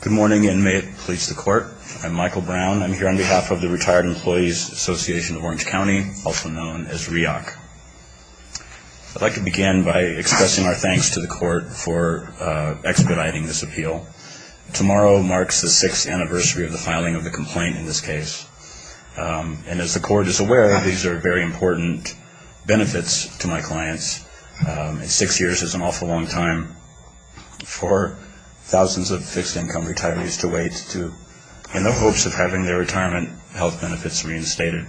Good morning, and may it please the court. I'm Michael Brown. I'm here on behalf of the Retired Employees Association of Orange County, also known as REAC. I'd like to begin by expressing our thanks to the court for expediting this appeal. Tomorrow marks the sixth anniversary of the filing of the complaint in this case. And as the court is aware, these are very important benefits to my clients. Six years is an awful long time for thousands of fixed income retirees to wait in the hopes of having their retirement health benefits reinstated.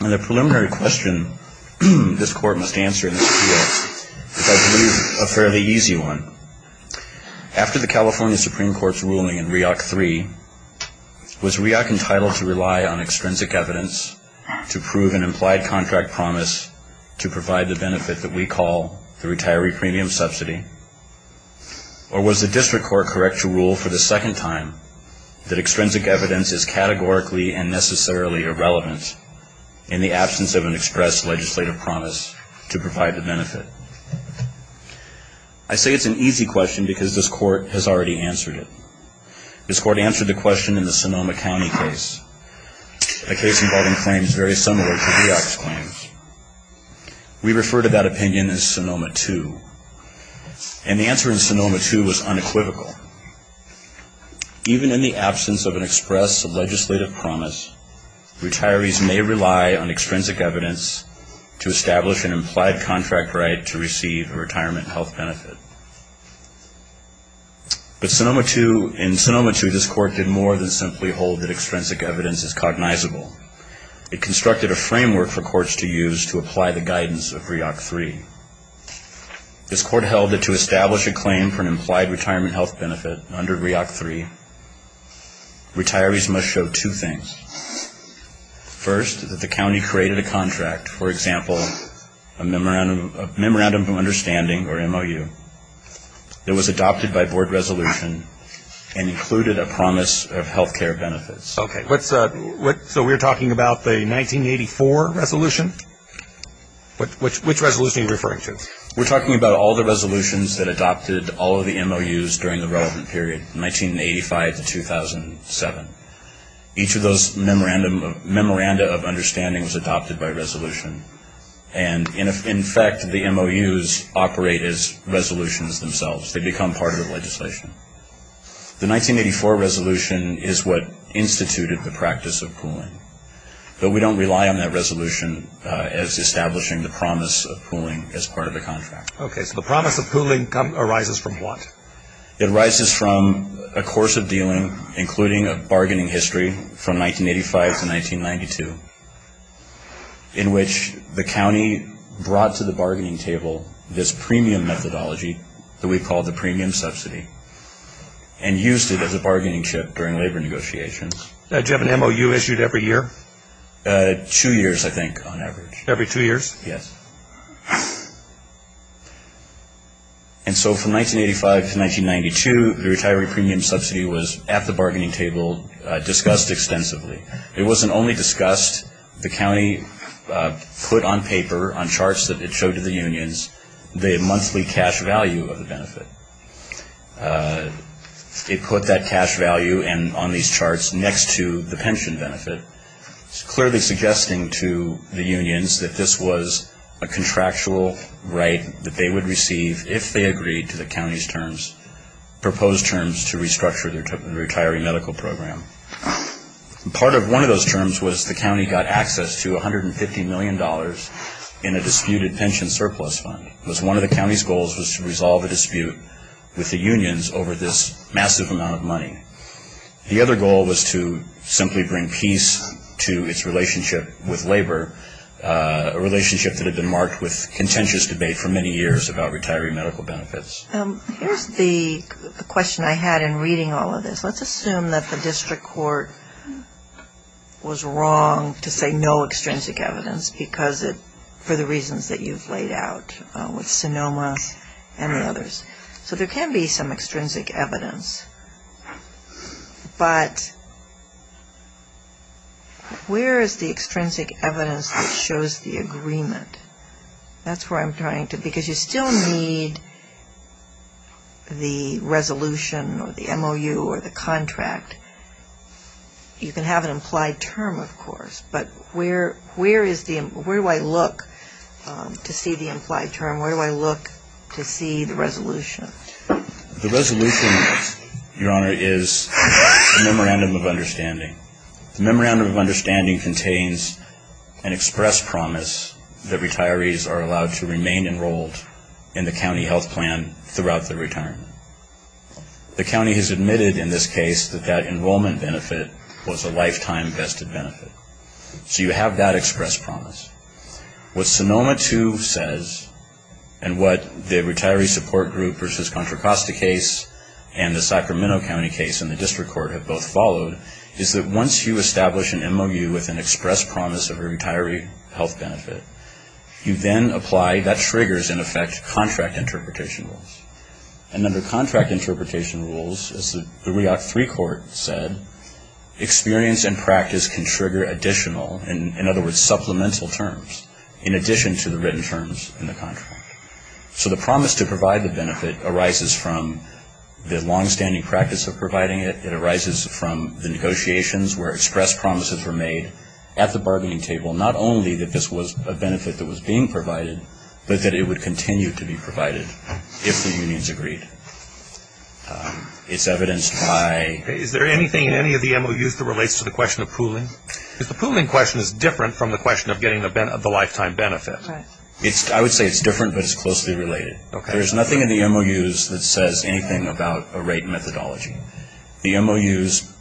And the preliminary question this court must answer in this appeal is, I believe, a fairly easy one. After the California Supreme Court's ruling in REAC 3, was REAC entitled to rely on extrinsic evidence to prove an implied contract promise to provide the benefit that we call the retiree premium subsidy? Or was the district court correct to rule for the second time that extrinsic evidence is categorically and necessarily irrelevant in the absence of an expressed legislative promise to provide the benefit? I say it's an easy question because this court has already answered it. This court answered the question in the Sonoma County case, a case involving claims very similar to REAC's claims. We refer to that opinion as Sonoma 2. And the answer in Sonoma 2 was unequivocal. Even in the absence of an expressed legislative promise, retirees may rely on extrinsic evidence to establish an implied contract right to receive a retirement health benefit. But Sonoma 2, in Sonoma 2, this court did more than simply hold that extrinsic evidence is cognizable. It constructed a framework for courts to use to apply the guidance of REAC 3. This court held that to establish a claim for an implied retirement health benefit under REAC 3, retirees must show two things. First that the county created a contract, for example, a memorandum of understanding or MOU, that was adopted by board resolution and included a promise of health care benefits. Okay. So we're talking about the 1984 resolution? Which resolution are you referring to? We're talking about all the resolutions that adopted all of the MOUs during the relevant period, 1985 to 2007. Each of those memorandum, memoranda of understanding was adopted by the state as resolutions themselves. They become part of the legislation. The 1984 resolution is what instituted the practice of pooling. But we don't rely on that resolution as establishing the promise of pooling as part of the contract. Okay. So the promise of pooling arises from what? It arises from a course of dealing including a bargaining history from 1985 to 1992 in which the county brought to the bargaining table this premium methodology that we call the premium subsidy and used it as a bargaining chip during labor negotiations. Did you have an MOU issued every year? Two years, I think, on average. Every two years? Yes. And so from 1985 to 1992, the retiree premium subsidy was at the bargaining table discussed extensively. It wasn't only discussed. The county put on paper, on charts that it showed to the unions, the monthly cash value of the benefit. It put that cash value on these charts next to the pension benefit, clearly suggesting to the unions that this was a contractual right that they would receive if they agreed to the county's terms, proposed terms to restructure their retiree medical program. Part of one of those terms was the county got access to $150 million in a disputed pension surplus fund. It was one of the county's goals was to resolve the dispute with the unions over this massive amount of money. The other goal was to simply bring peace to its relationship with labor, a relationship that had been marked with contentious debate for many years about whether or not it was a contractual right. Here's the question I had in reading all of this. Let's assume that the district court was wrong to say no extrinsic evidence because it, for the reasons that you've laid out with Sonoma and the others. So there can be some extrinsic evidence, but where is the extrinsic evidence? The resolution or the MOU or the contract, you can have an implied term, of course, but where is the, where do I look to see the implied term? Where do I look to see the resolution? The resolution, Your Honor, is a memorandum of understanding. The memorandum of understanding contains an express promise that retirees are allowed to remain enrolled in the county health plan throughout their retirement. The county has admitted in this case that that enrollment benefit was a lifetime vested benefit. So you have that express promise. What Sonoma too says and what the retiree support group versus Contra Costa case and the Sacramento County case and the district court have both followed is that once you establish an MOU with an express promise of a retiree health benefit, you then apply, that triggers, in effect, contract interpretation rules. And under contract interpretation rules, as the REACT III court said, experience and practice can trigger additional, in other words supplemental terms, in addition to the written terms in the contract. So the promise to provide the benefit arises from the longstanding practice of providing it. It arises from the negotiations where express promises were made at the bargaining table. Not only that this was a benefit that was being provided, but that it would continue to be provided if the unions agreed. It's evidenced by... Is there anything in any of the MOUs that relates to the question of pooling? Because the pooling question is different from the question of getting the lifetime benefit. I would say it's different, but it's closely related. There's nothing in the MOUs that says anything about a rate methodology. The MOUs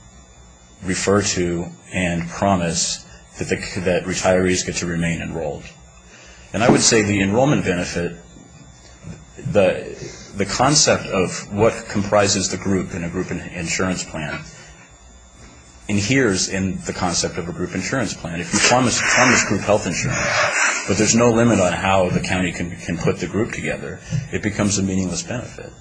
refer to and promise that retirees get to remain enrolled. And I would say the enrollment benefit, the concept of what comprises the group in a group insurance plan, adheres in the concept of a group insurance plan. If you promise group health insurance, but there's no limit on how the county can put the group together, it becomes a meaningless benefit.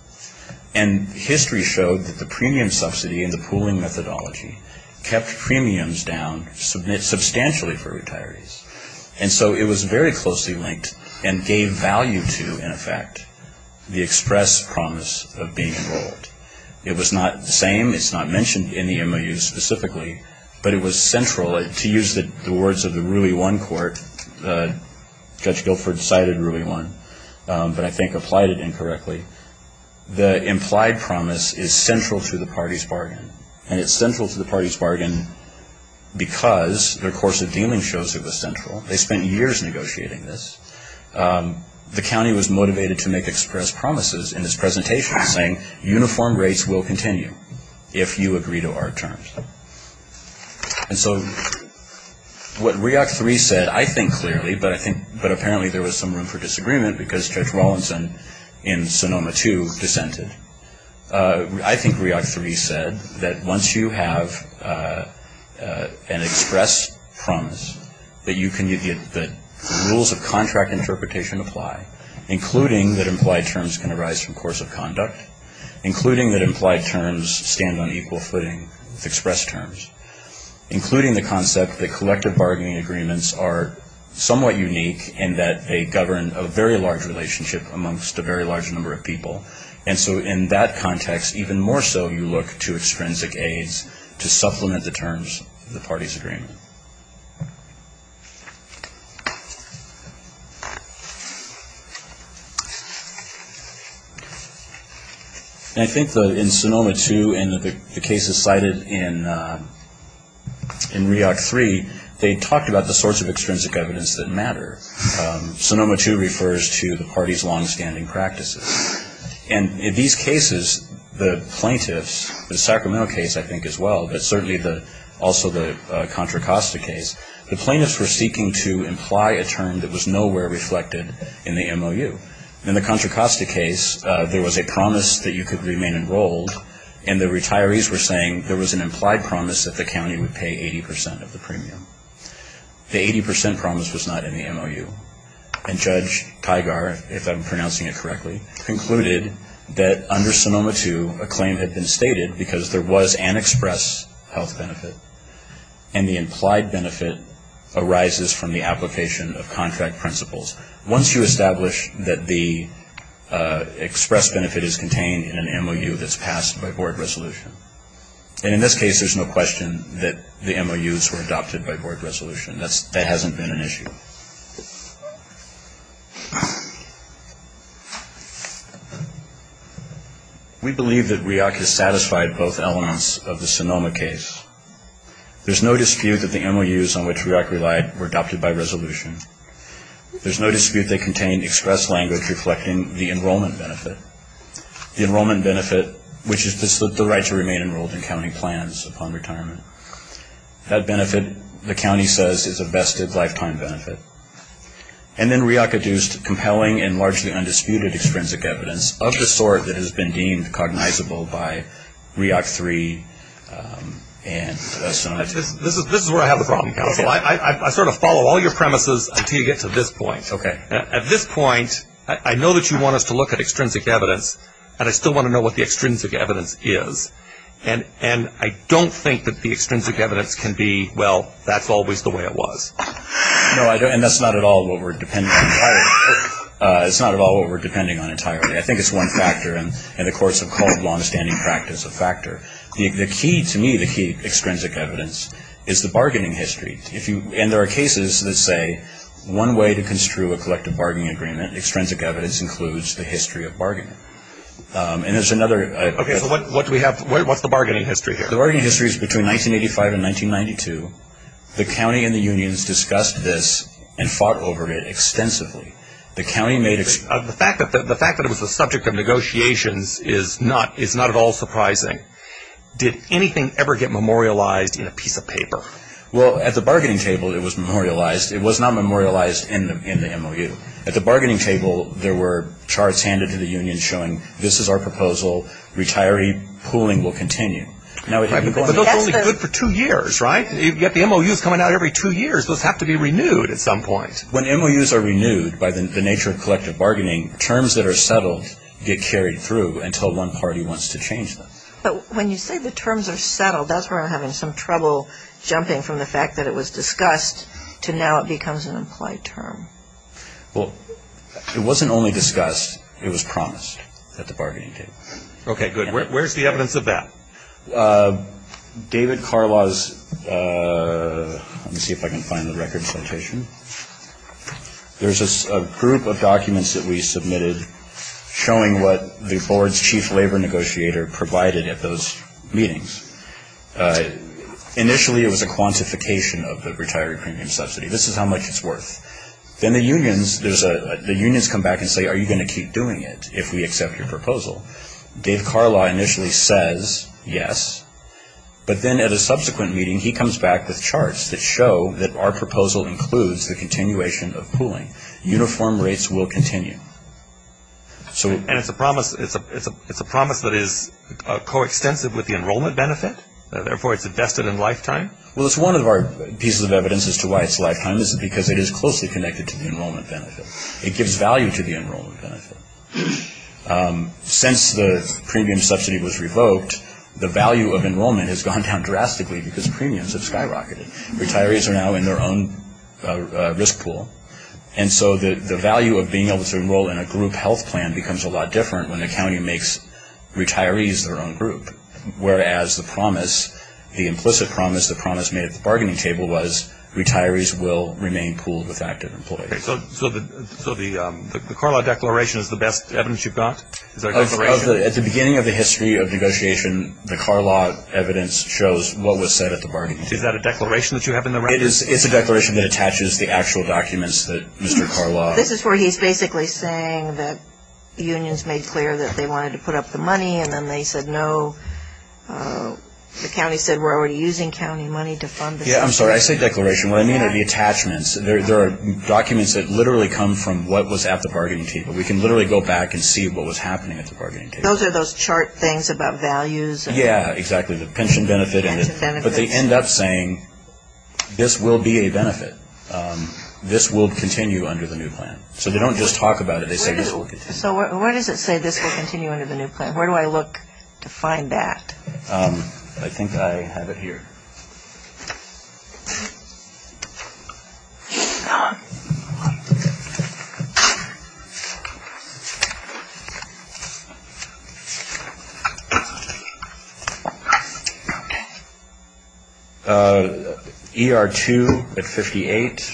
And history showed that the premium subsidy and the pooling methodology kept premiums down substantially for retirees. And so it was very closely linked and gave value to, in effect, the express promise of being enrolled. It was not the same. It's not mentioned in the MOUs specifically, but it was central. To use the words of the RUI 1 court, Judge Guilford cited RUI 1, but I think applied it incorrectly. The implied promise is central to the party's bargain. And it's central to the party's bargain because their course of dealing shows it was central. They spent years negotiating this. The county was motivated to make express promises in its presentation saying uniform rates will continue if you agree to our terms. And so what REAC 3 said, I think clearly, but I think, but apparently there was some room for disagreement because Judge Rawlinson in Sonoma 2 dissented. I think REAC 3 said that once you have an express promise that you can get the rules of contract interpretation to apply, including that implied terms can arise from course of conduct, including that implied terms stand on equal footing with express terms, including the concept that they govern a very large relationship amongst a very large number of people. And so in that context, even more so you look to extrinsic aids to supplement the terms of the party's agreement. I think in Sonoma 2 and the cases cited in REAC 3, they talked about the sorts of extrinsic evidence that matter. Sonoma 2 refers to the party's longstanding practices. And in these cases, the plaintiffs, the Sacramento case I think as well, but certainly also the Contra Costa case, the plaintiffs were seeking to imply a term that was nowhere reflected in the MOU. In the Contra Costa case, there was a promise that you could remain enrolled and the retirees were saying there was an implied promise that the county would pay 80 percent of the premium. The 80 percent promise was not in the MOU. And Judge Teigar, if I'm pronouncing it correctly, concluded that under Sonoma 2, a claim had been stated because there was an express health benefit and the implied benefit arises from the application of contract principles. Once you establish that the express benefit is contained in an MOU that's passed by board resolution. And in this case, there's no question that the MOUs were adopted by board resolution. That hasn't been an issue. We believe that REAC has satisfied both elements of the Sonoma case. There's no dispute that the MOUs on which REAC relied were adopted by resolution. There's no dispute that contained express language reflecting the enrollment benefit. The enrollment benefit, which is the right to remain enrolled in county plans upon retirement. That benefit, the county says, is a vested lifetime benefit. And then REAC adduced compelling and largely undisputed extrinsic evidence of the sort that has been deemed cognizable by REAC 3 and Sonoma 2. This is where I have a problem, counsel. I sort of follow all your premises until you get to this point. I know that you want us to look at extrinsic evidence. And I still want to know what the extrinsic evidence is. And I don't think that the extrinsic evidence can be, well, that's always the way it was. No, and that's not at all what we're depending on entirely. It's not at all what we're depending on entirely. I think it's one factor. And in the course of cold, longstanding practice, a factor. The key to me, the key extrinsic evidence is the bargaining history. And there are cases that say one way to construe a collective bargaining agreement, extrinsic evidence, includes the history of bargaining. And there's another. Okay, so what do we have, what's the bargaining history here? The bargaining history is between 1985 and 1992. The county and the unions discussed this and fought over it extensively. The county made. The fact that it was the subject of negotiations is not at all surprising. Did anything ever get memorialized in a piece of paper? Well, at the bargaining table, it was memorialized. It was not memorialized in the MOU. At the bargaining table, there were charts handed to the unions showing, this is our proposal. Retiree pooling will continue. Right, but those are only good for two years, right? Yet the MOU is coming out every two years. Those have to be renewed at some point. When MOUs are renewed by the nature of collective bargaining, terms that are settled get carried through until one party wants to change them. But when you say the terms are settled, that's where I'm having some trouble jumping from the fact that it was discussed to now it becomes an implied term. Well, it wasn't only discussed, it was promised at the bargaining table. Okay, good. Where's the evidence of that? David Carlaw's, let me see if I can find the record citation. There's a group of documents that we submitted showing what the board's chief labor negotiator provided at those meetings. Initially, it was a quantification of the retiree premium subsidy. This is how much it's worth. Then the unions, there's a, the unions come back and say, are you going to keep doing it if we accept your proposal? Dave Carlaw initially says, yes. But then at a subsequent meeting, he comes back with charts that show that our proposal includes the continuation of pooling. Uniform rates will continue. And it's a promise, it's a promise that is coextensive with the enrollment benefit? Therefore, it's invested in lifetime? Well, it's one of our pieces of evidence as to why it's lifetime. It's because it is closely connected to the enrollment benefit. It gives value to the enrollment benefit. Since the premium subsidy was revoked, the value of enrollment has gone down drastically because premiums have skyrocketed. Retirees are now in their own risk pool. And so the value of being able to enroll in a group health plan becomes a lot different when the county makes retirees their own group. Whereas the promise, the implicit promise, the promise made at the bargaining table was retirees will remain pooled with active employees. Okay. So the, so the, the Carlaw Declaration is the best evidence you've got? Of the, at the beginning of the history of negotiation, the Carlaw evidence shows what was said at the bargaining table. Is that a declaration that you have in the record? It is, it's a declaration that attaches the actual documents that Mr. Carlaw. This is where he's basically saying that unions made clear that they wanted to put up the money and then they said no. The county said we're already using county money to fund the state. Yeah, I'm sorry, I said declaration. What I mean are the attachments. There are documents that literally come from what was at the bargaining table. We can literally go back and see what was happening at the bargaining table. Those are those chart things about values? Yeah, exactly. The pension benefit and the, but they end up saying this will be a benefit. This will continue under the new plan. So they don't just talk about it, they say this will continue. So where does it say this will continue under the new plan? Where do I look to find that? I think I have it here. ER-2 at 58.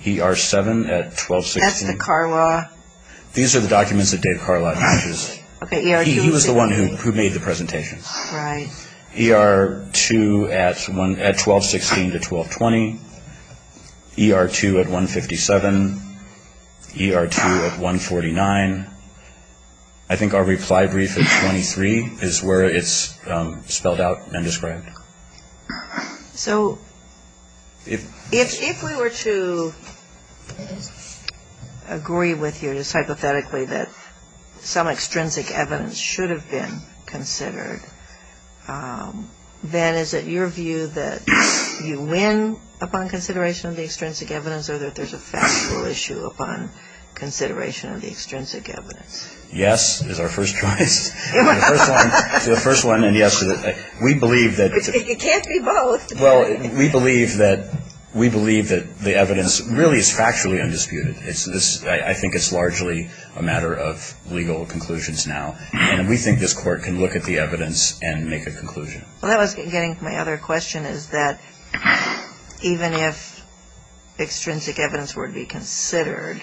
ER-7 at 1260. That's the Carlaw. These are the documents that Dave Carlaw uses. He was the one who made the presentations. ER-2 at 1260 to 1220. ER-2 at 157. ER-2 at 149. I think our reply brief at 23 is where it's spelled out and described. So if we were to agree with you just hypothetically that some extrinsic evidence should have been considered, then is it your view that you win upon consideration of the extrinsic evidence or that there's a factual issue upon consideration of the extrinsic evidence? Yes is our first choice. The first one, and yes, we believe that. You can't be both. Well, we believe that the evidence really is factually undisputed. I think it's largely a matter of legal conclusions now. And we think this court can look at the evidence and make a conclusion. Well, that was getting to my other question, is that even if extrinsic evidence were to be considered,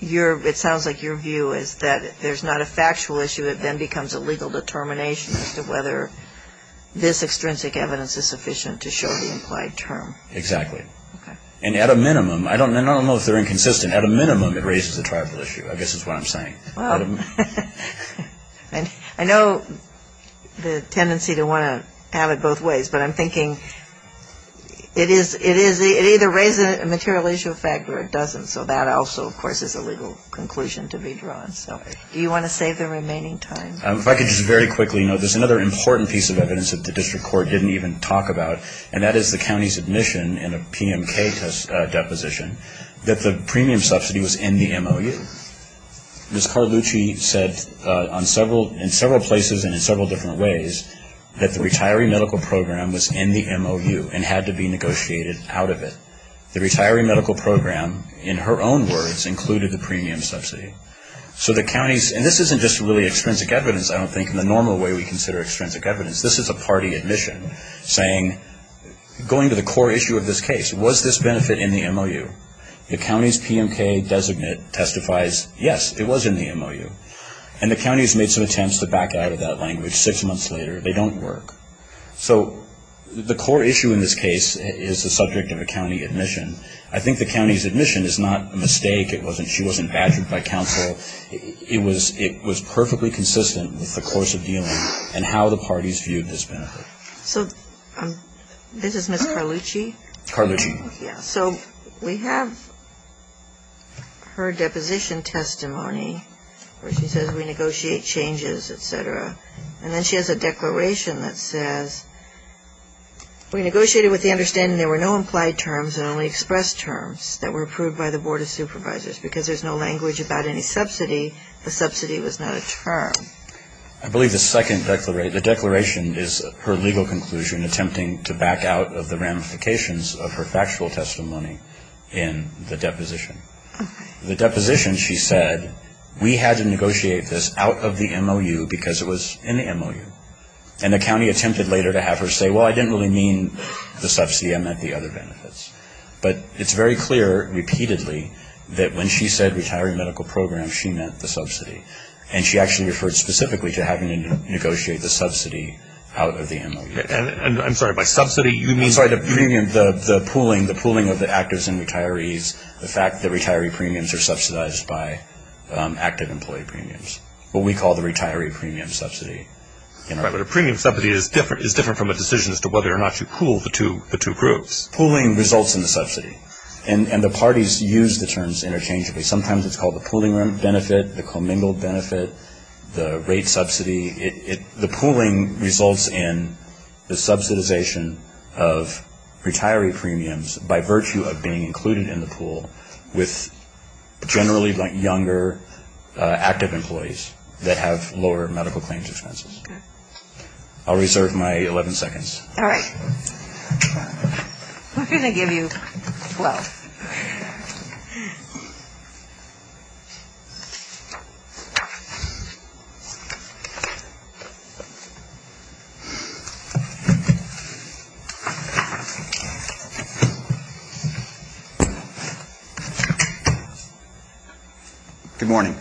it sounds like your view is that if there's not a factual issue, it then becomes a legal determination as to whether this extrinsic evidence is sufficient to show the implied term. Exactly. And at a minimum, I don't know if they're inconsistent, at a minimum it raises a tribal issue. I guess that's what I'm saying. Well, I know the tendency to want to have it both ways, but I'm thinking it either raises a material issue or it doesn't. So that also, of course, is a legal conclusion to be drawn. So do you want to save the remaining time? If I could just very quickly note, there's another important piece of evidence that the district court didn't even talk about, and that is the county's admission in a PMK deposition that the premium subsidy was in the MOU. Ms. Carlucci said in several places and in several different ways that the retiree medical program was in the MOU and had to be negotiated out of it. The retiree medical program, in her own words, included the premium subsidy. So the county's, and this isn't just really extrinsic evidence, I don't think, in the normal way we consider extrinsic evidence. This is a party admission saying, going to the core issue of this case, was this benefit in the MOU? The county's PMK designate testifies, yes, it was in the MOU. And the county's made some attempts to back out of that language six months later. They don't work. So the core issue in this case is the subject of a county admission. I think the county's admission is not a mistake. It wasn't, she wasn't badgered by counsel. It was perfectly consistent with the course of dealing and how the parties viewed this benefit. So this is Ms. Carlucci? Carlucci. Yes. So we have her deposition testimony where she says we negotiate changes, et cetera. And then she has a declaration that says, we negotiated with the understanding there were no implied terms and only expressed terms that were approved by the Board of Supervisors. Because there's no language about any subsidy, the subsidy was not a term. I believe the second declaration, the declaration is her legal conclusion attempting to back out of the ramifications of her factual testimony in the deposition. The deposition, she said, we had to negotiate this out of the MOU because it was in the MOU. And the county attempted later to have her say, well, I didn't really mean the subsidy. I meant the other benefits. But it's very clear repeatedly that when she said retiree medical program, she meant the specifically to having to negotiate the subsidy out of the MOU. I'm sorry, by subsidy you mean? I'm sorry, the pooling of the actives and retirees, the fact that retiree premiums are subsidized by active employee premiums, what we call the retiree premium subsidy. Right. But a premium subsidy is different from a decision as to whether or not you pool the two groups. Pooling results in the subsidy. And the parties use the terms interchangeably. Sometimes it's called the pooling benefit, the commingle benefit, the rate subsidy. The pooling results in the subsidization of retiree premiums by virtue of being included in the pool with generally younger active employees that have lower medical claims expenses. I'll reserve my 11 seconds. All right. We're going to give you 12. Good morning.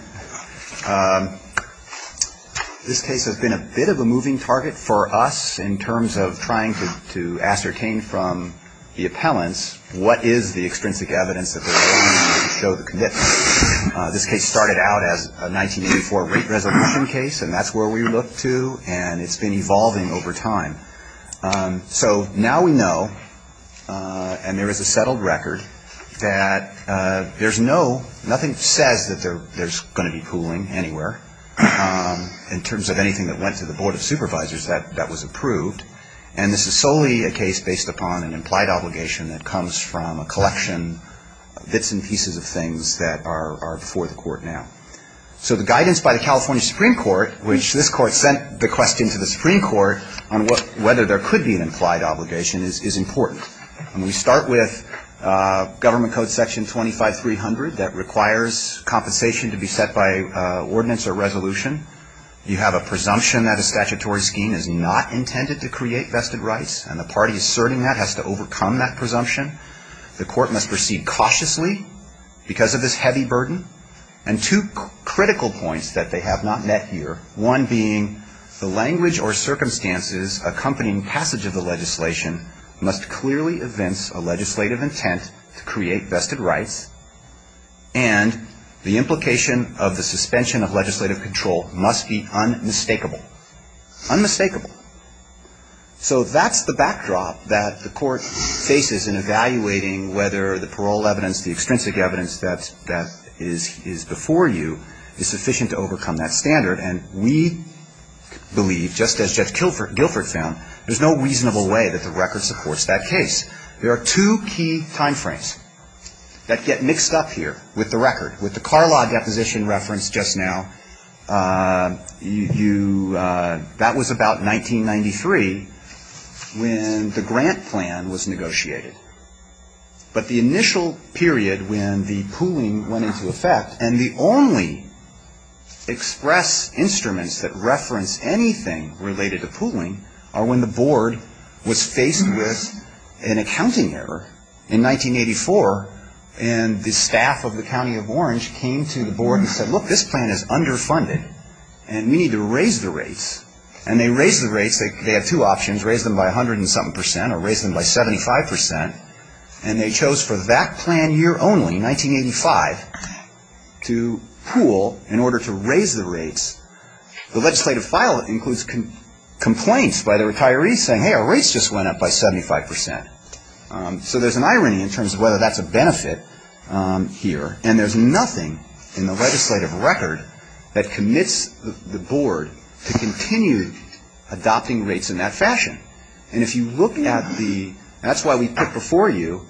This case has been a bit of a moving target for us in terms of trying to ascertain from the appellants what is the extrinsic evidence that they're going to need to show the commitment. This case started out as a 1984 rate resolution case, and that's where we look to, and it's been evolving over time. So now we know, and there is a settled record, that there's no, nothing says that there's going to be pooling anywhere in terms of anything that went to the Board of Supervisors that was approved. And this is solely a case based upon an implied obligation that comes from a collection, bits and pieces of things that are before the Court now. So the guidance by the California Supreme Court, which this Court sent the question to the Supreme Court on whether there could be an implied obligation, is important. And we start with Government Code Section 25300 that requires compensation to be set by ordinance or resolution. You have a presumption that a statutory scheme is not intended to create vested rights, and the party asserting that has to overcome that presumption. The Court must proceed cautiously because of this heavy burden. And two critical points that they have not met here, one being the language or circumstances accompanying passage of the legislation must clearly evince a legislative intent to create vested rights, and the implication of the suspension of legislative control must be unmistakable. Unmistakable. So that's the backdrop that the Court faces in evaluating whether the parole evidence, the extrinsic evidence that is before you is sufficient to overcome that standard. And we believe, just as Judge Guilford found, there's no reasonable way that the record supports that case. There are two key time frames that get mixed up here with the record. With the Carlaw deposition reference just now, you, that was about 1993 when the grant plan was negotiated. But the initial period when the pooling went into effect, and the only express instruments that reference anything related to pooling are when the Board was faced with an accounting error in 1984, and the staff of the County of Orange came to the Board and said, look, this plan is underfunded, and we need to raise the rates. And they raised the rates. They had two options, raise them by 107 percent or raise them by 75 percent. And they chose for that plan year only, 1985, to pool in order to raise the rates. And they chose to do that. The legislative file includes complaints by the retirees saying, hey, our rates just went up by 75 percent. So there's an irony in terms of whether that's a benefit here. And there's nothing in the legislative record that commits the Board to continue adopting rates in that fashion. And if you look at the, that's why we put before you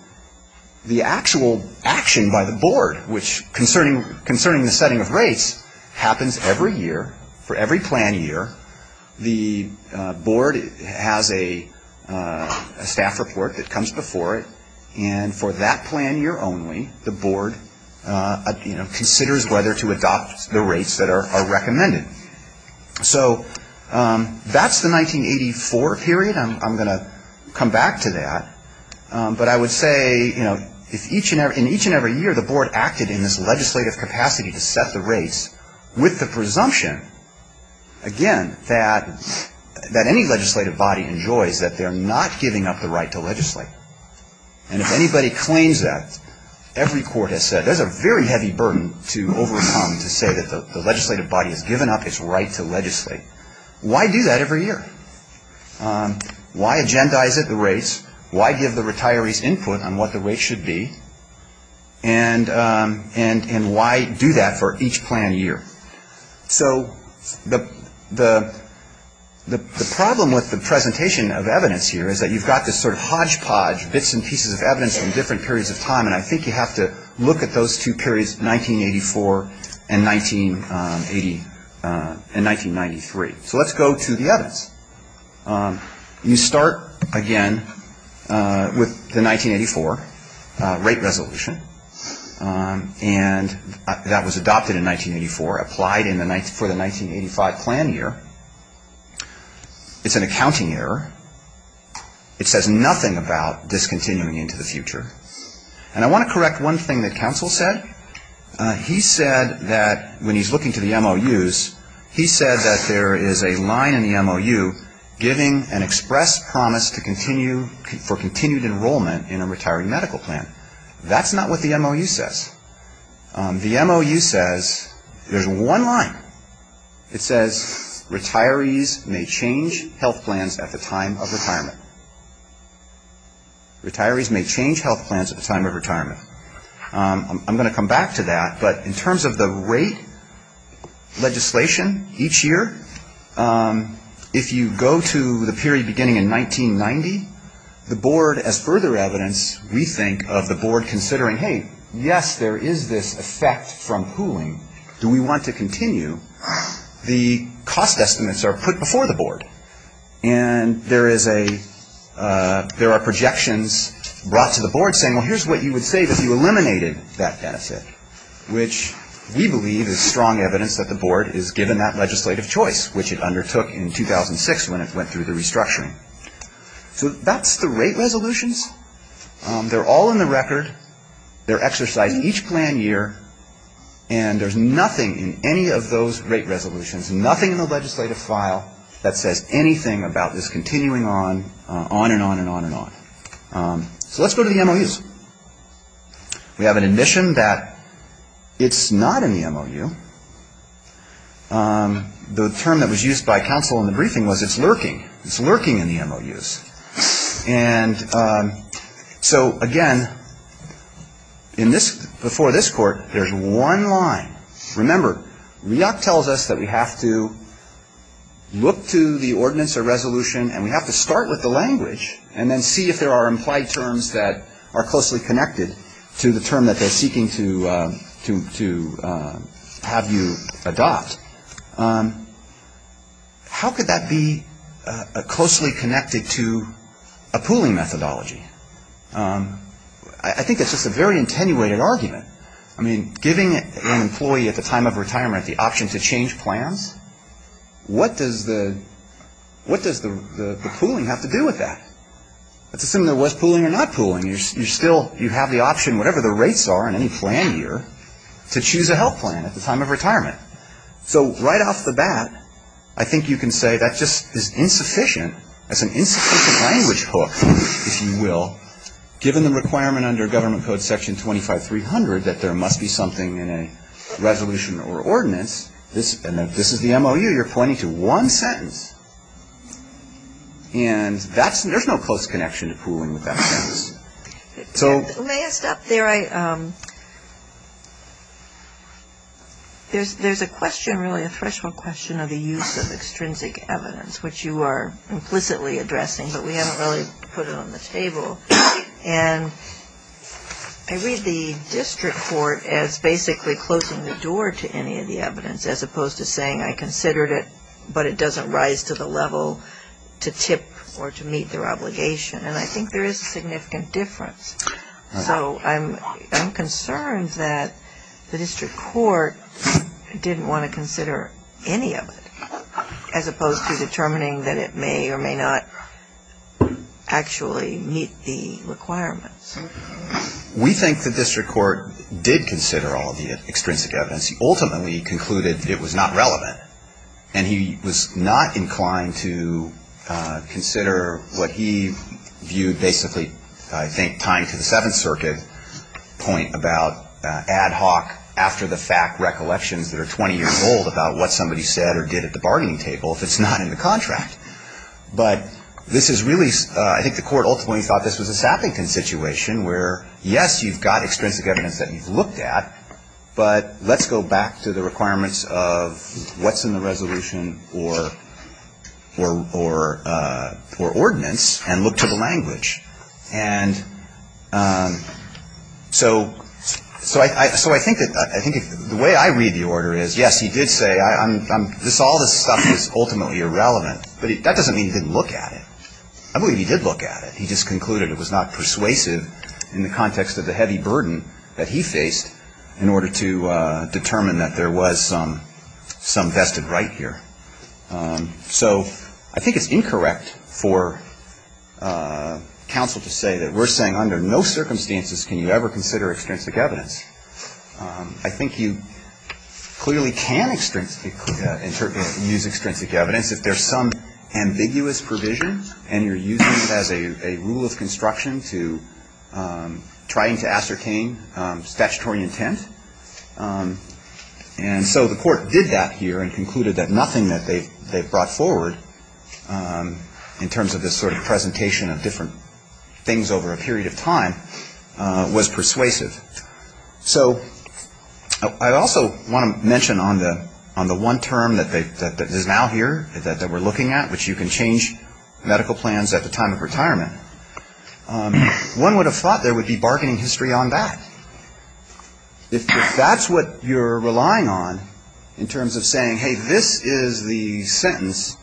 the actual action by the Board, which concerning the setting of rates, happens every year for every plan year, the Board has a staff report that comes before it. And for that plan year only, the Board, you know, considers whether to adopt the rates that are recommended. So that's the 1984 period. I'm going to come back to that. But I would say, you know, if each and every, in each and every year the Board acted in this legislative capacity to presumption, again, that any legislative body enjoys that they're not giving up the right to legislate. And if anybody claims that, every court has said there's a very heavy burden to overcome to say that the legislative body has given up its right to legislate. Why do that every year? Why agendize it, the rates? Why give the retirees input on what the rates should be? And why do that for each plan year? So the problem with the presentation of evidence here is that you've got this sort of hodgepodge, bits and pieces of evidence from different periods of time. And I think you have to look at those two periods, 1984 and 1980 and 1993. So let's go to the evidence. You start, again, with the 1984 rate resolution. And that was adopted in 1984, applied for the 1985 plan year. It's an accounting error. It says nothing about discontinuing into the future. And I want to correct one thing that counsel said. He said that when he's looking to the MOUs, he said that there is a line in the MOU giving an express promise to continue for continued enrollment in a retiring medical plan. That's not what the MOU says. The MOU says, there's one line. It says, retirees may change health plans at the time of retirement. Retirees may change health plans at the time of retirement. I'm going to come back to that. But in terms of the rate legislation each year, if you go to the period beginning in 1990, the board, as further evidence, we think of the board considering, hey, yes, there is this effect from pooling. Do we want to continue? The cost estimates are put before the board. And there is a, there are projections brought to the board saying, well, here's what you would say if you eliminated that benefit, which we believe is strong evidence that the board is given that legislative choice, which it undertook in 2006 when it went through the restructuring. So that's the rate resolutions. They're all in the record. They're exercised each plan year. And there's nothing in any of those rate resolutions, nothing in the legislative file that says anything about on and on and on and on. So let's go to the MOUs. We have an admission that it's not in the MOU. The term that was used by counsel in the briefing was it's lurking. It's lurking in the MOUs. And so, again, in this, before this court, there's one line. Remember, REAC tells us that we have to look to the ordinance or resolution and we have to start with the language and then see if there are implied terms that are closely connected to the term that they're seeking to have you adopt. How could that be closely connected to a pooling methodology? I think that's just a very attenuated argument. I mean, giving an employee at the time of retirement the option to change plans, what does the pooling have to do with that? Let's assume there was pooling or not pooling. You're still, you have the option, whatever the rates are in any plan year, to choose a health plan at the time of retirement. So right off the bat, I think you can say that just is insufficient. That's an insufficient language hook, if you will, given the requirement under Government Code Section 25300 that there ordinance, and this is the MOU, you're pointing to one sentence. And that's, there's no close connection to pooling with that sentence. So may I stop there? There's a question, really a threshold question of the use of extrinsic evidence, which you are implicitly addressing, but we haven't really put it on the table. And I read the district court as basically closing the door to any of the evidence, as opposed to saying I considered it, but it doesn't rise to the level to tip or to meet their obligation. And I think there is a significant difference. So I'm concerned that the district court didn't want to consider any of it, as opposed to determining that it may or may not actually meet the requirements. We think the district court did consider all of the extrinsic evidence. He ultimately concluded it was not relevant. And he was not inclined to consider what he viewed basically, I think, tying to the Seventh Circuit point about ad hoc, after-the-fact recollections that are 20 years old about what somebody said or did at the bargaining table if it's not in the contract. But this is really, I think the court ultimately thought this was a Sappington situation where, yes, you've got extrinsic evidence that you've looked at, but let's go back to the requirements of what's in the resolution or ordinance and look to the language. And so I think the way I read the order is, yes, he did say all this stuff is ultimately irrelevant, but that doesn't mean he didn't look at it. I believe he did look at it. He just concluded it was not persuasive in the context of the heavy burden that he faced in order to determine that there was some vested right here. So I think it's incorrect for counsel to say that we're saying under no circumstances can you ever consider extrinsic evidence. I think you clearly can use extrinsic evidence if there's some ambiguous provision and you're using it as a rule of construction to trying to ascertain statutory intent. And so the court did that here and concluded that nothing that they've brought forward in terms of this sort of presentation of different things over a period of time was persuasive. So I also want to mention on the one term that is now here that we're looking at, which you can change medical plans at the time of retirement, one would have thought there would be bargaining history on that. If that's what you're relying on in terms of saying, hey, this is the sentence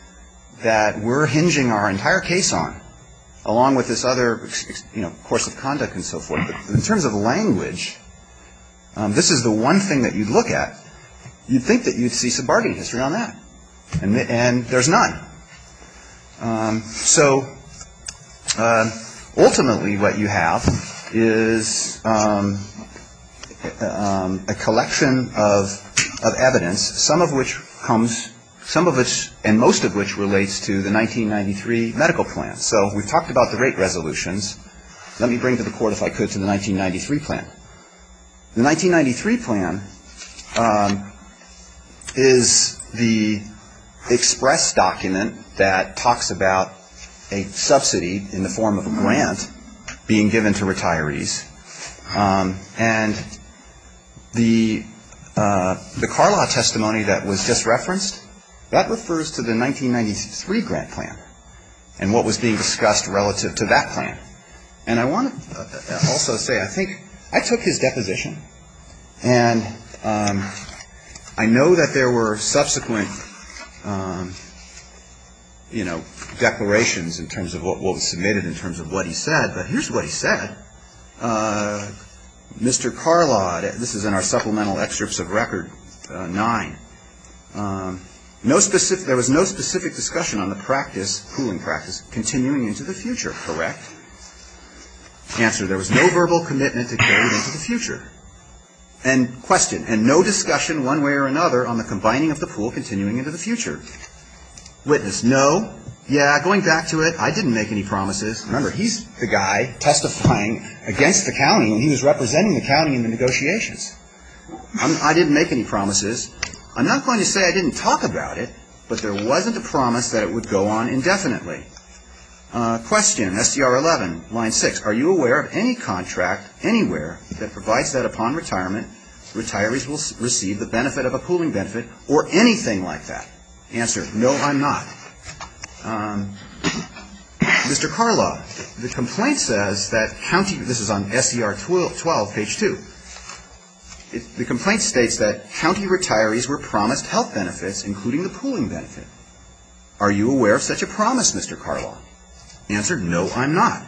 that we're hinging our entire case on, along with this other course of conduct and so forth. But in terms of language, this is the one thing that you'd look at. You'd think that you'd see some bargaining history on that. And there's none. So ultimately what you have is a collection of evidence, some of which comes – some of which and most of which relates to the 1993 medical plan. So we've talked about the rate resolutions. Let me bring to the court, if I could, to the 1993 plan. The 1993 plan is the express document that talks about a subsidy in the form of a grant being given to retirees. And the Carlisle testimony that was just referenced, that refers to the 1993 grant plan and what was being discussed relative to that plan. And I want to also say, I think – I took his deposition. And I know that there were subsequent, you know, declarations in terms of what was submitted in terms of what he said. But here's what he said. Mr. Carlisle – this is in our supplemental excerpts of Record 9 – no specific – there was no specific discussion on the practice – cooling into the future, correct? Answer, there was no verbal commitment to carry it into the future. And question, and no discussion one way or another on the combining of the pool continuing into the future. Witness, no. Yeah, going back to it, I didn't make any promises. Remember, he's the guy testifying against the county when he was representing the county in the negotiations. I didn't make any promises. I'm not going to say I didn't talk about it, but there wasn't a promise that it would go on indefinitely. Question, SDR 11, line 6, are you aware of any contract anywhere that provides that upon retirement, retirees will receive the benefit of a pooling benefit or anything like that? Answer, no, I'm not. Mr. Carlisle, the complaint says that county – this is on SDR 12, page 2. The complaint states that county retirees were promised health benefits, including the pooling benefit. Are you aware of such a promise, Mr. Carlisle? Answer, no, I'm not.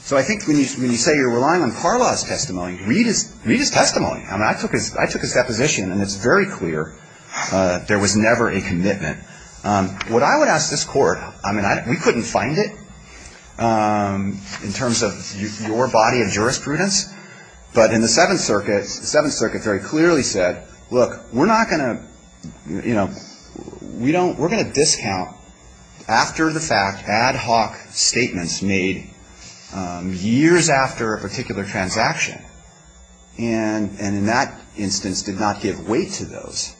So I think when you say you're relying on Carlisle's testimony, read his testimony. I mean, I took his deposition, and it's very clear there was never a commitment. What I would ask this Court – I mean, we couldn't find it in terms of your body of jurisprudence, but in the Seventh Circuit, the Seventh Circuit very clearly said, look, we're not going to, you know, we don't – we're going to discount after the fact, ad hoc statements made years after a particular transaction. And in that instance, did not give weight to those.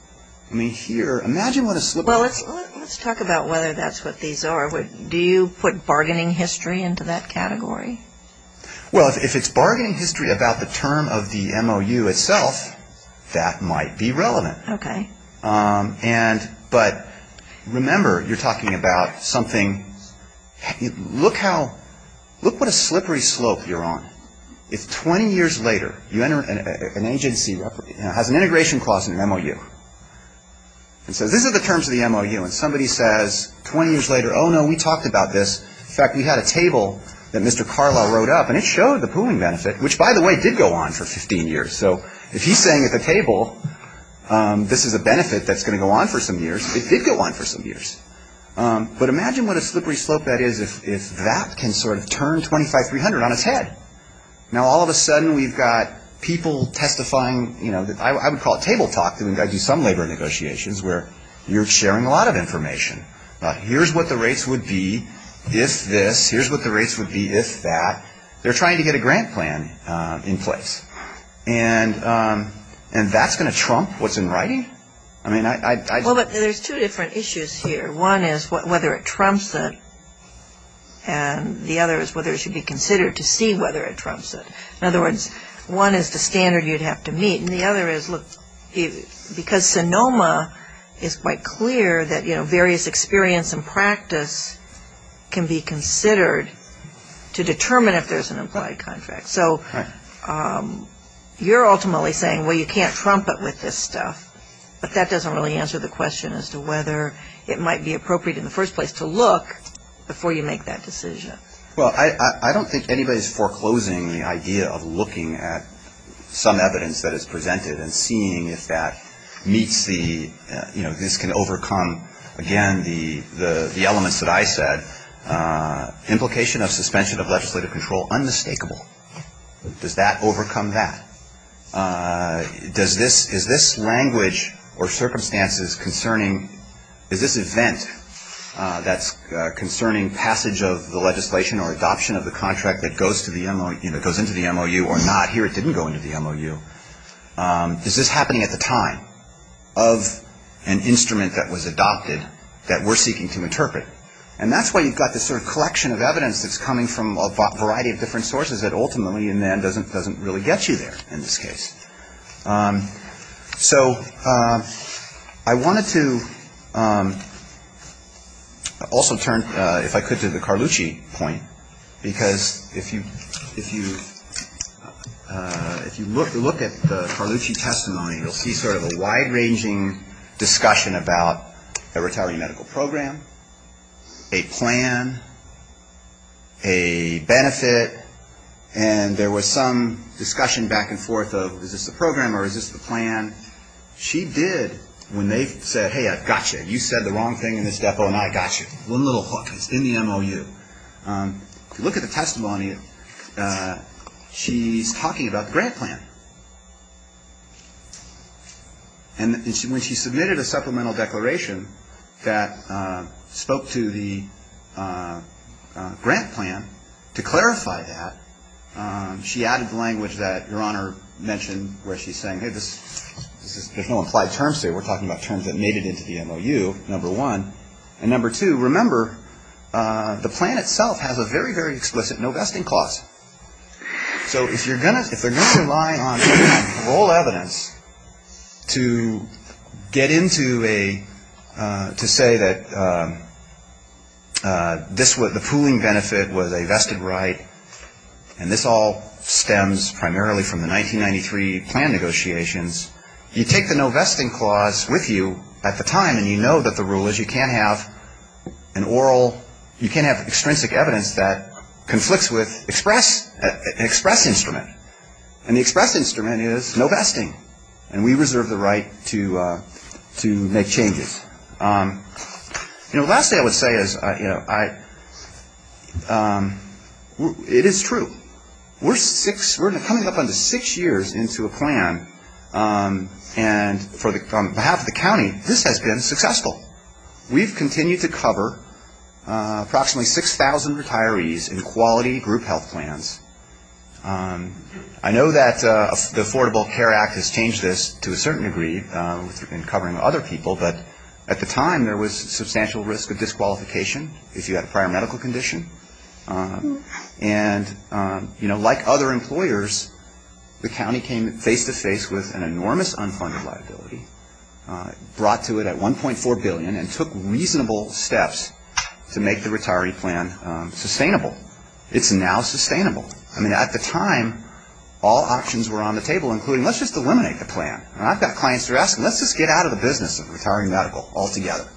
I mean, here, imagine what a slip of the – Well, let's talk about whether that's what these are. Do you put bargaining history into that category? Well, if it's bargaining history about the term of the MOU itself, that might be relevant. And – but remember, you're talking about something – look how – look what a slippery slope you're on. If 20 years later, you enter – an agency has an integration clause in an MOU and says, these are the terms of the MOU, and somebody says 20 years later, oh, no, we talked about this. In fact, we had a table that Mr. Carlisle wrote up, and it showed the pooling benefit, which, by the way, did go on for 15 years. So if he's saying at the table, this is a benefit that's going to go on for some years, it did go on for some years. But imagine what a slippery slope that is if that can sort of turn 25-300 on its head. Now, all of a sudden, we've got people testifying, you know, I would call it table talk. I mean, I do some labor negotiations where you're sharing a lot of information. Here's what the rates would be if this. Here's what the rates would be if that. They're trying to get a grant plan in place. And that's going to trump what's in writing? I mean, I – Well, but there's two different issues here. One is whether it trumps it, and the other is whether it should be considered to see whether it trumps it. In other words, one is the standard you'd have to meet, and the other is, look, because Sonoma is quite clear that, you know, various experience and practice can be considered to determine if there's an implied contract. So you're ultimately saying, well, you can't trump it with this stuff. But that doesn't really answer the question as to whether it might be appropriate in the first place to look before you make that decision. Well, I don't think anybody's foreclosing the idea of looking at some evidence that can overcome, again, the elements that I said. Implication of suspension of legislative control, unmistakable. Does that overcome that? Is this language or circumstances concerning – is this event that's concerning passage of the legislation or adoption of the contract that goes to the – you know, goes into the MOU or not? Here it didn't go into the MOU. Is this happening at the time of an instrument that was adopted that we're seeking to interpret? And that's why you've got this sort of collection of evidence that's coming from a variety of different sources that ultimately, in the end, doesn't really get you there in this case. So I wanted to also turn, if I could, to the Carlucci point. Because if you look at the Carlucci testimony, you'll see sort of a wide-ranging discussion about a retiree medical program, a plan, a benefit, and there was some discussion back and forth of, is this the program or is this the plan? She did, when they said, hey, I've got you. You said the wrong thing in this depot and I got you. One little hook. It's in the MOU. If you look at the testimony, she's talking about the grant plan. And when she submitted a supplemental declaration that spoke to the grant plan, to clarify that, she added the language that Your Honor mentioned where she's saying, hey, there's no implied terms here. We're talking about terms that made it into the MOU, number one. And number two, remember, the plan itself has a very, very explicit no vesting clause. So if you're going to rely on oral evidence to get into a, to say that this was, the pooling benefit was a vested right and this all stems primarily from the 1993 plan negotiations, you take the no vesting clause with you at the time and you know that the rule is you can't have an oral, you can't have extrinsic evidence that conflicts with express instrument. And the express instrument is no vesting. And we reserve the right to make changes. You know, the last thing I would say is, you know, I, it is true. We're six, we're coming up on six years into a plan and for the, on behalf of the county, this has been successful. We've continued to cover approximately 6,000 retirees in quality group health plans. I know that the Affordable Care Act has changed this to a certain degree in covering other people, but at the time there was substantial risk of disqualification if you had a prior medical condition. And, you know, like other employers, the county came face to face with an enormous unfunded liability, brought to it at 1.4 billion and took reasonable steps to make the retiree plan sustainable. It's now sustainable. I mean, at the time all options were on the table, including let's just eliminate the plan. I've got clients who are asking, let's just get out of the business of retiring medical altogether.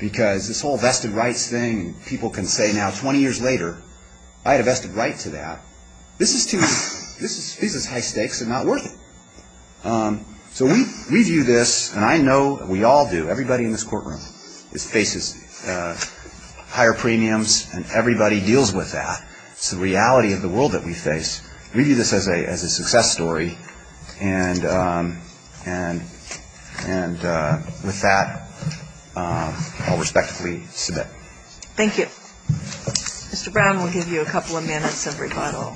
Because this whole vested rights thing, people can say now 20 years later, I had a vested right to that. This is high stakes and not worth it. So we view this, and I know that we all do, everybody in this courtroom faces higher premiums and everybody deals with that. It's the reality of the world that we face. We view this as a success story. And with that, I'll respectfully submit. Thank you. Mr. Brown will give you a couple of minutes of rebuttal.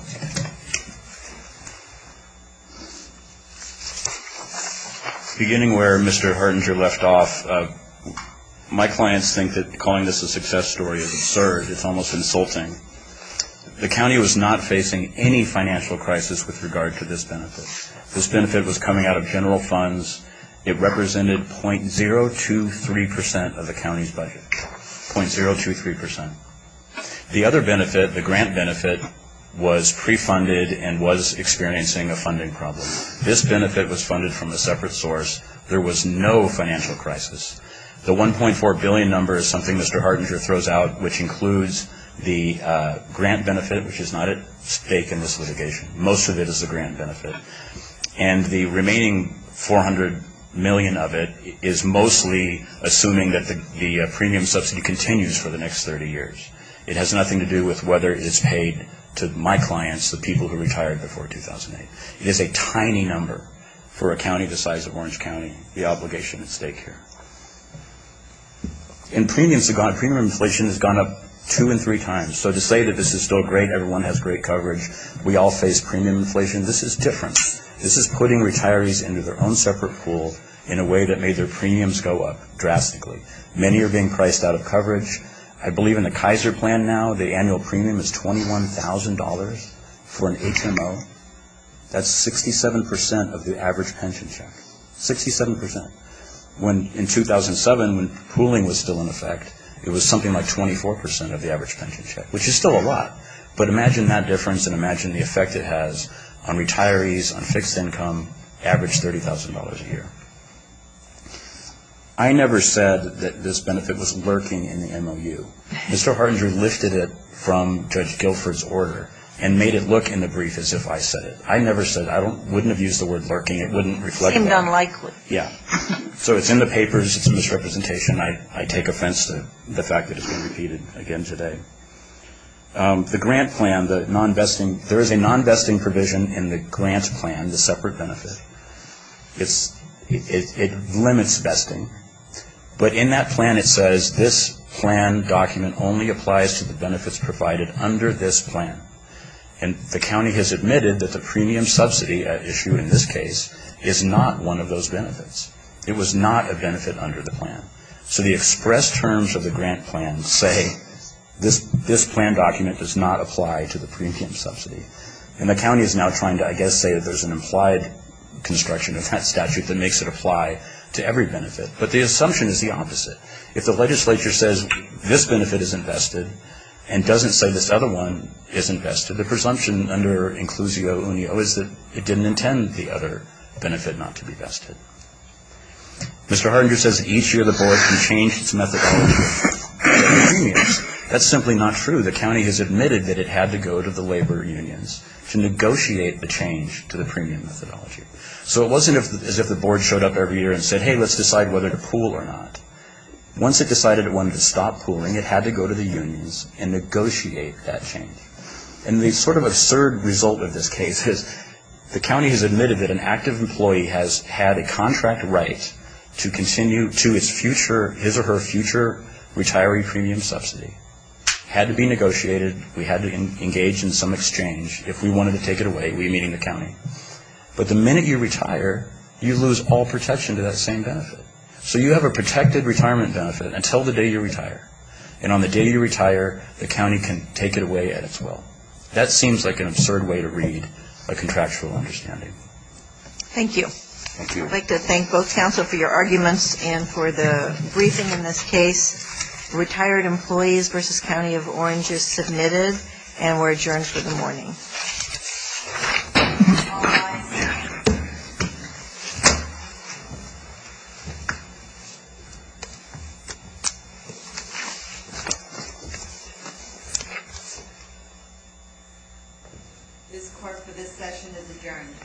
Beginning where Mr. Hartinger left off, my clients think that calling this a success story is absurd. It's almost insulting. The county was not facing any financial crisis with regard to this benefit. This benefit was coming out of general funds. It represented .023 percent of the county's budget. .023 percent. The other benefit, the grant benefit, was pre-funded and was experiencing a funding problem. This benefit was funded from a separate source. There was no financial crisis. The 1.4 billion number is something Mr. Hartinger throws out, which includes the grant benefit, which is not at stake in this litigation. Most of it is the grant benefit. And the remaining 400 million of it is mostly assuming that the premium subsidy continues for the next 30 years. It has nothing to do with whether it's paid to my clients, the people who retired before 2008. It is a tiny number for a county the size of Orange County, the obligation at stake here. In premiums, premium inflation has gone up two and three times. So to say that this is still great, everyone has great coverage, we all face premium inflation, this is different. This is putting retirees into their own separate pool in a way that made their premiums go up drastically. Many are being priced out of coverage. I believe in the Kaiser plan now, the annual premium is $21,000 for an HMO. That's 67 percent of the average pension check. Sixty-seven percent. When in 2007, when pooling was still in effect, it was something like 24 percent of the average pension check, which is still a lot. But imagine that difference and imagine the effect it has on retirees, on fixed income, average $30,000 a year. I never said that this benefit was lurking in the MOU. Mr. Hardinger lifted it from Judge Guilford's order and made it look in the brief as if I said it. I never said it. I wouldn't have used the word lurking. It wouldn't reflect that. It seemed unlikely. Yeah. So it's in the papers. It's a misrepresentation. I take offense to the fact that it's being repeated again today. The grant plan, the non-vesting, there is a non-vesting provision in the grant plan, the separate benefit. It limits vesting. But in that plan, it says this plan document only applies to the benefits provided under this plan. And the county has It was not a benefit under the plan. So the express terms of the grant plan say this plan document does not apply to the premium subsidy. And the county is now trying to, I guess, say that there's an implied construction of that statute that makes it apply to every benefit. But the assumption is the opposite. If the legislature says this benefit is invested and doesn't say this other one is invested, the presumption under Inclusio Unio is that it didn't intend the other benefit not to be vested. Mr. Hardinger says each year the board can change its methodology to the premiums. That's simply not true. The county has admitted that it had to go to the labor unions to negotiate the change to the premium methodology. So it wasn't as if the board showed up every year and said, hey, let's decide whether to pool or not. Once it decided it wanted to stop pooling, it had to go to the unions and negotiate that change. And the sort of absurd result of this case is the county has admitted that an active employee has had a contract right to continue to its future, his or her future, retiree premium subsidy. Had to be negotiated. We had to engage in some exchange. If we wanted to take it away, we meet in the county. But the minute you retire, you lose all protection to that same benefit. So you have a protected retirement benefit until the day you retire. And on the day you retire, the county can take it away at its will. That seems like an absurd way to read a contractual understanding. Thank you. Thank you. I'd like to thank both counsel for your arguments and for the briefing in this case. Retired Employees v. County of Orange is submitted and we're adjourned for the morning. This court for this session is adjourned.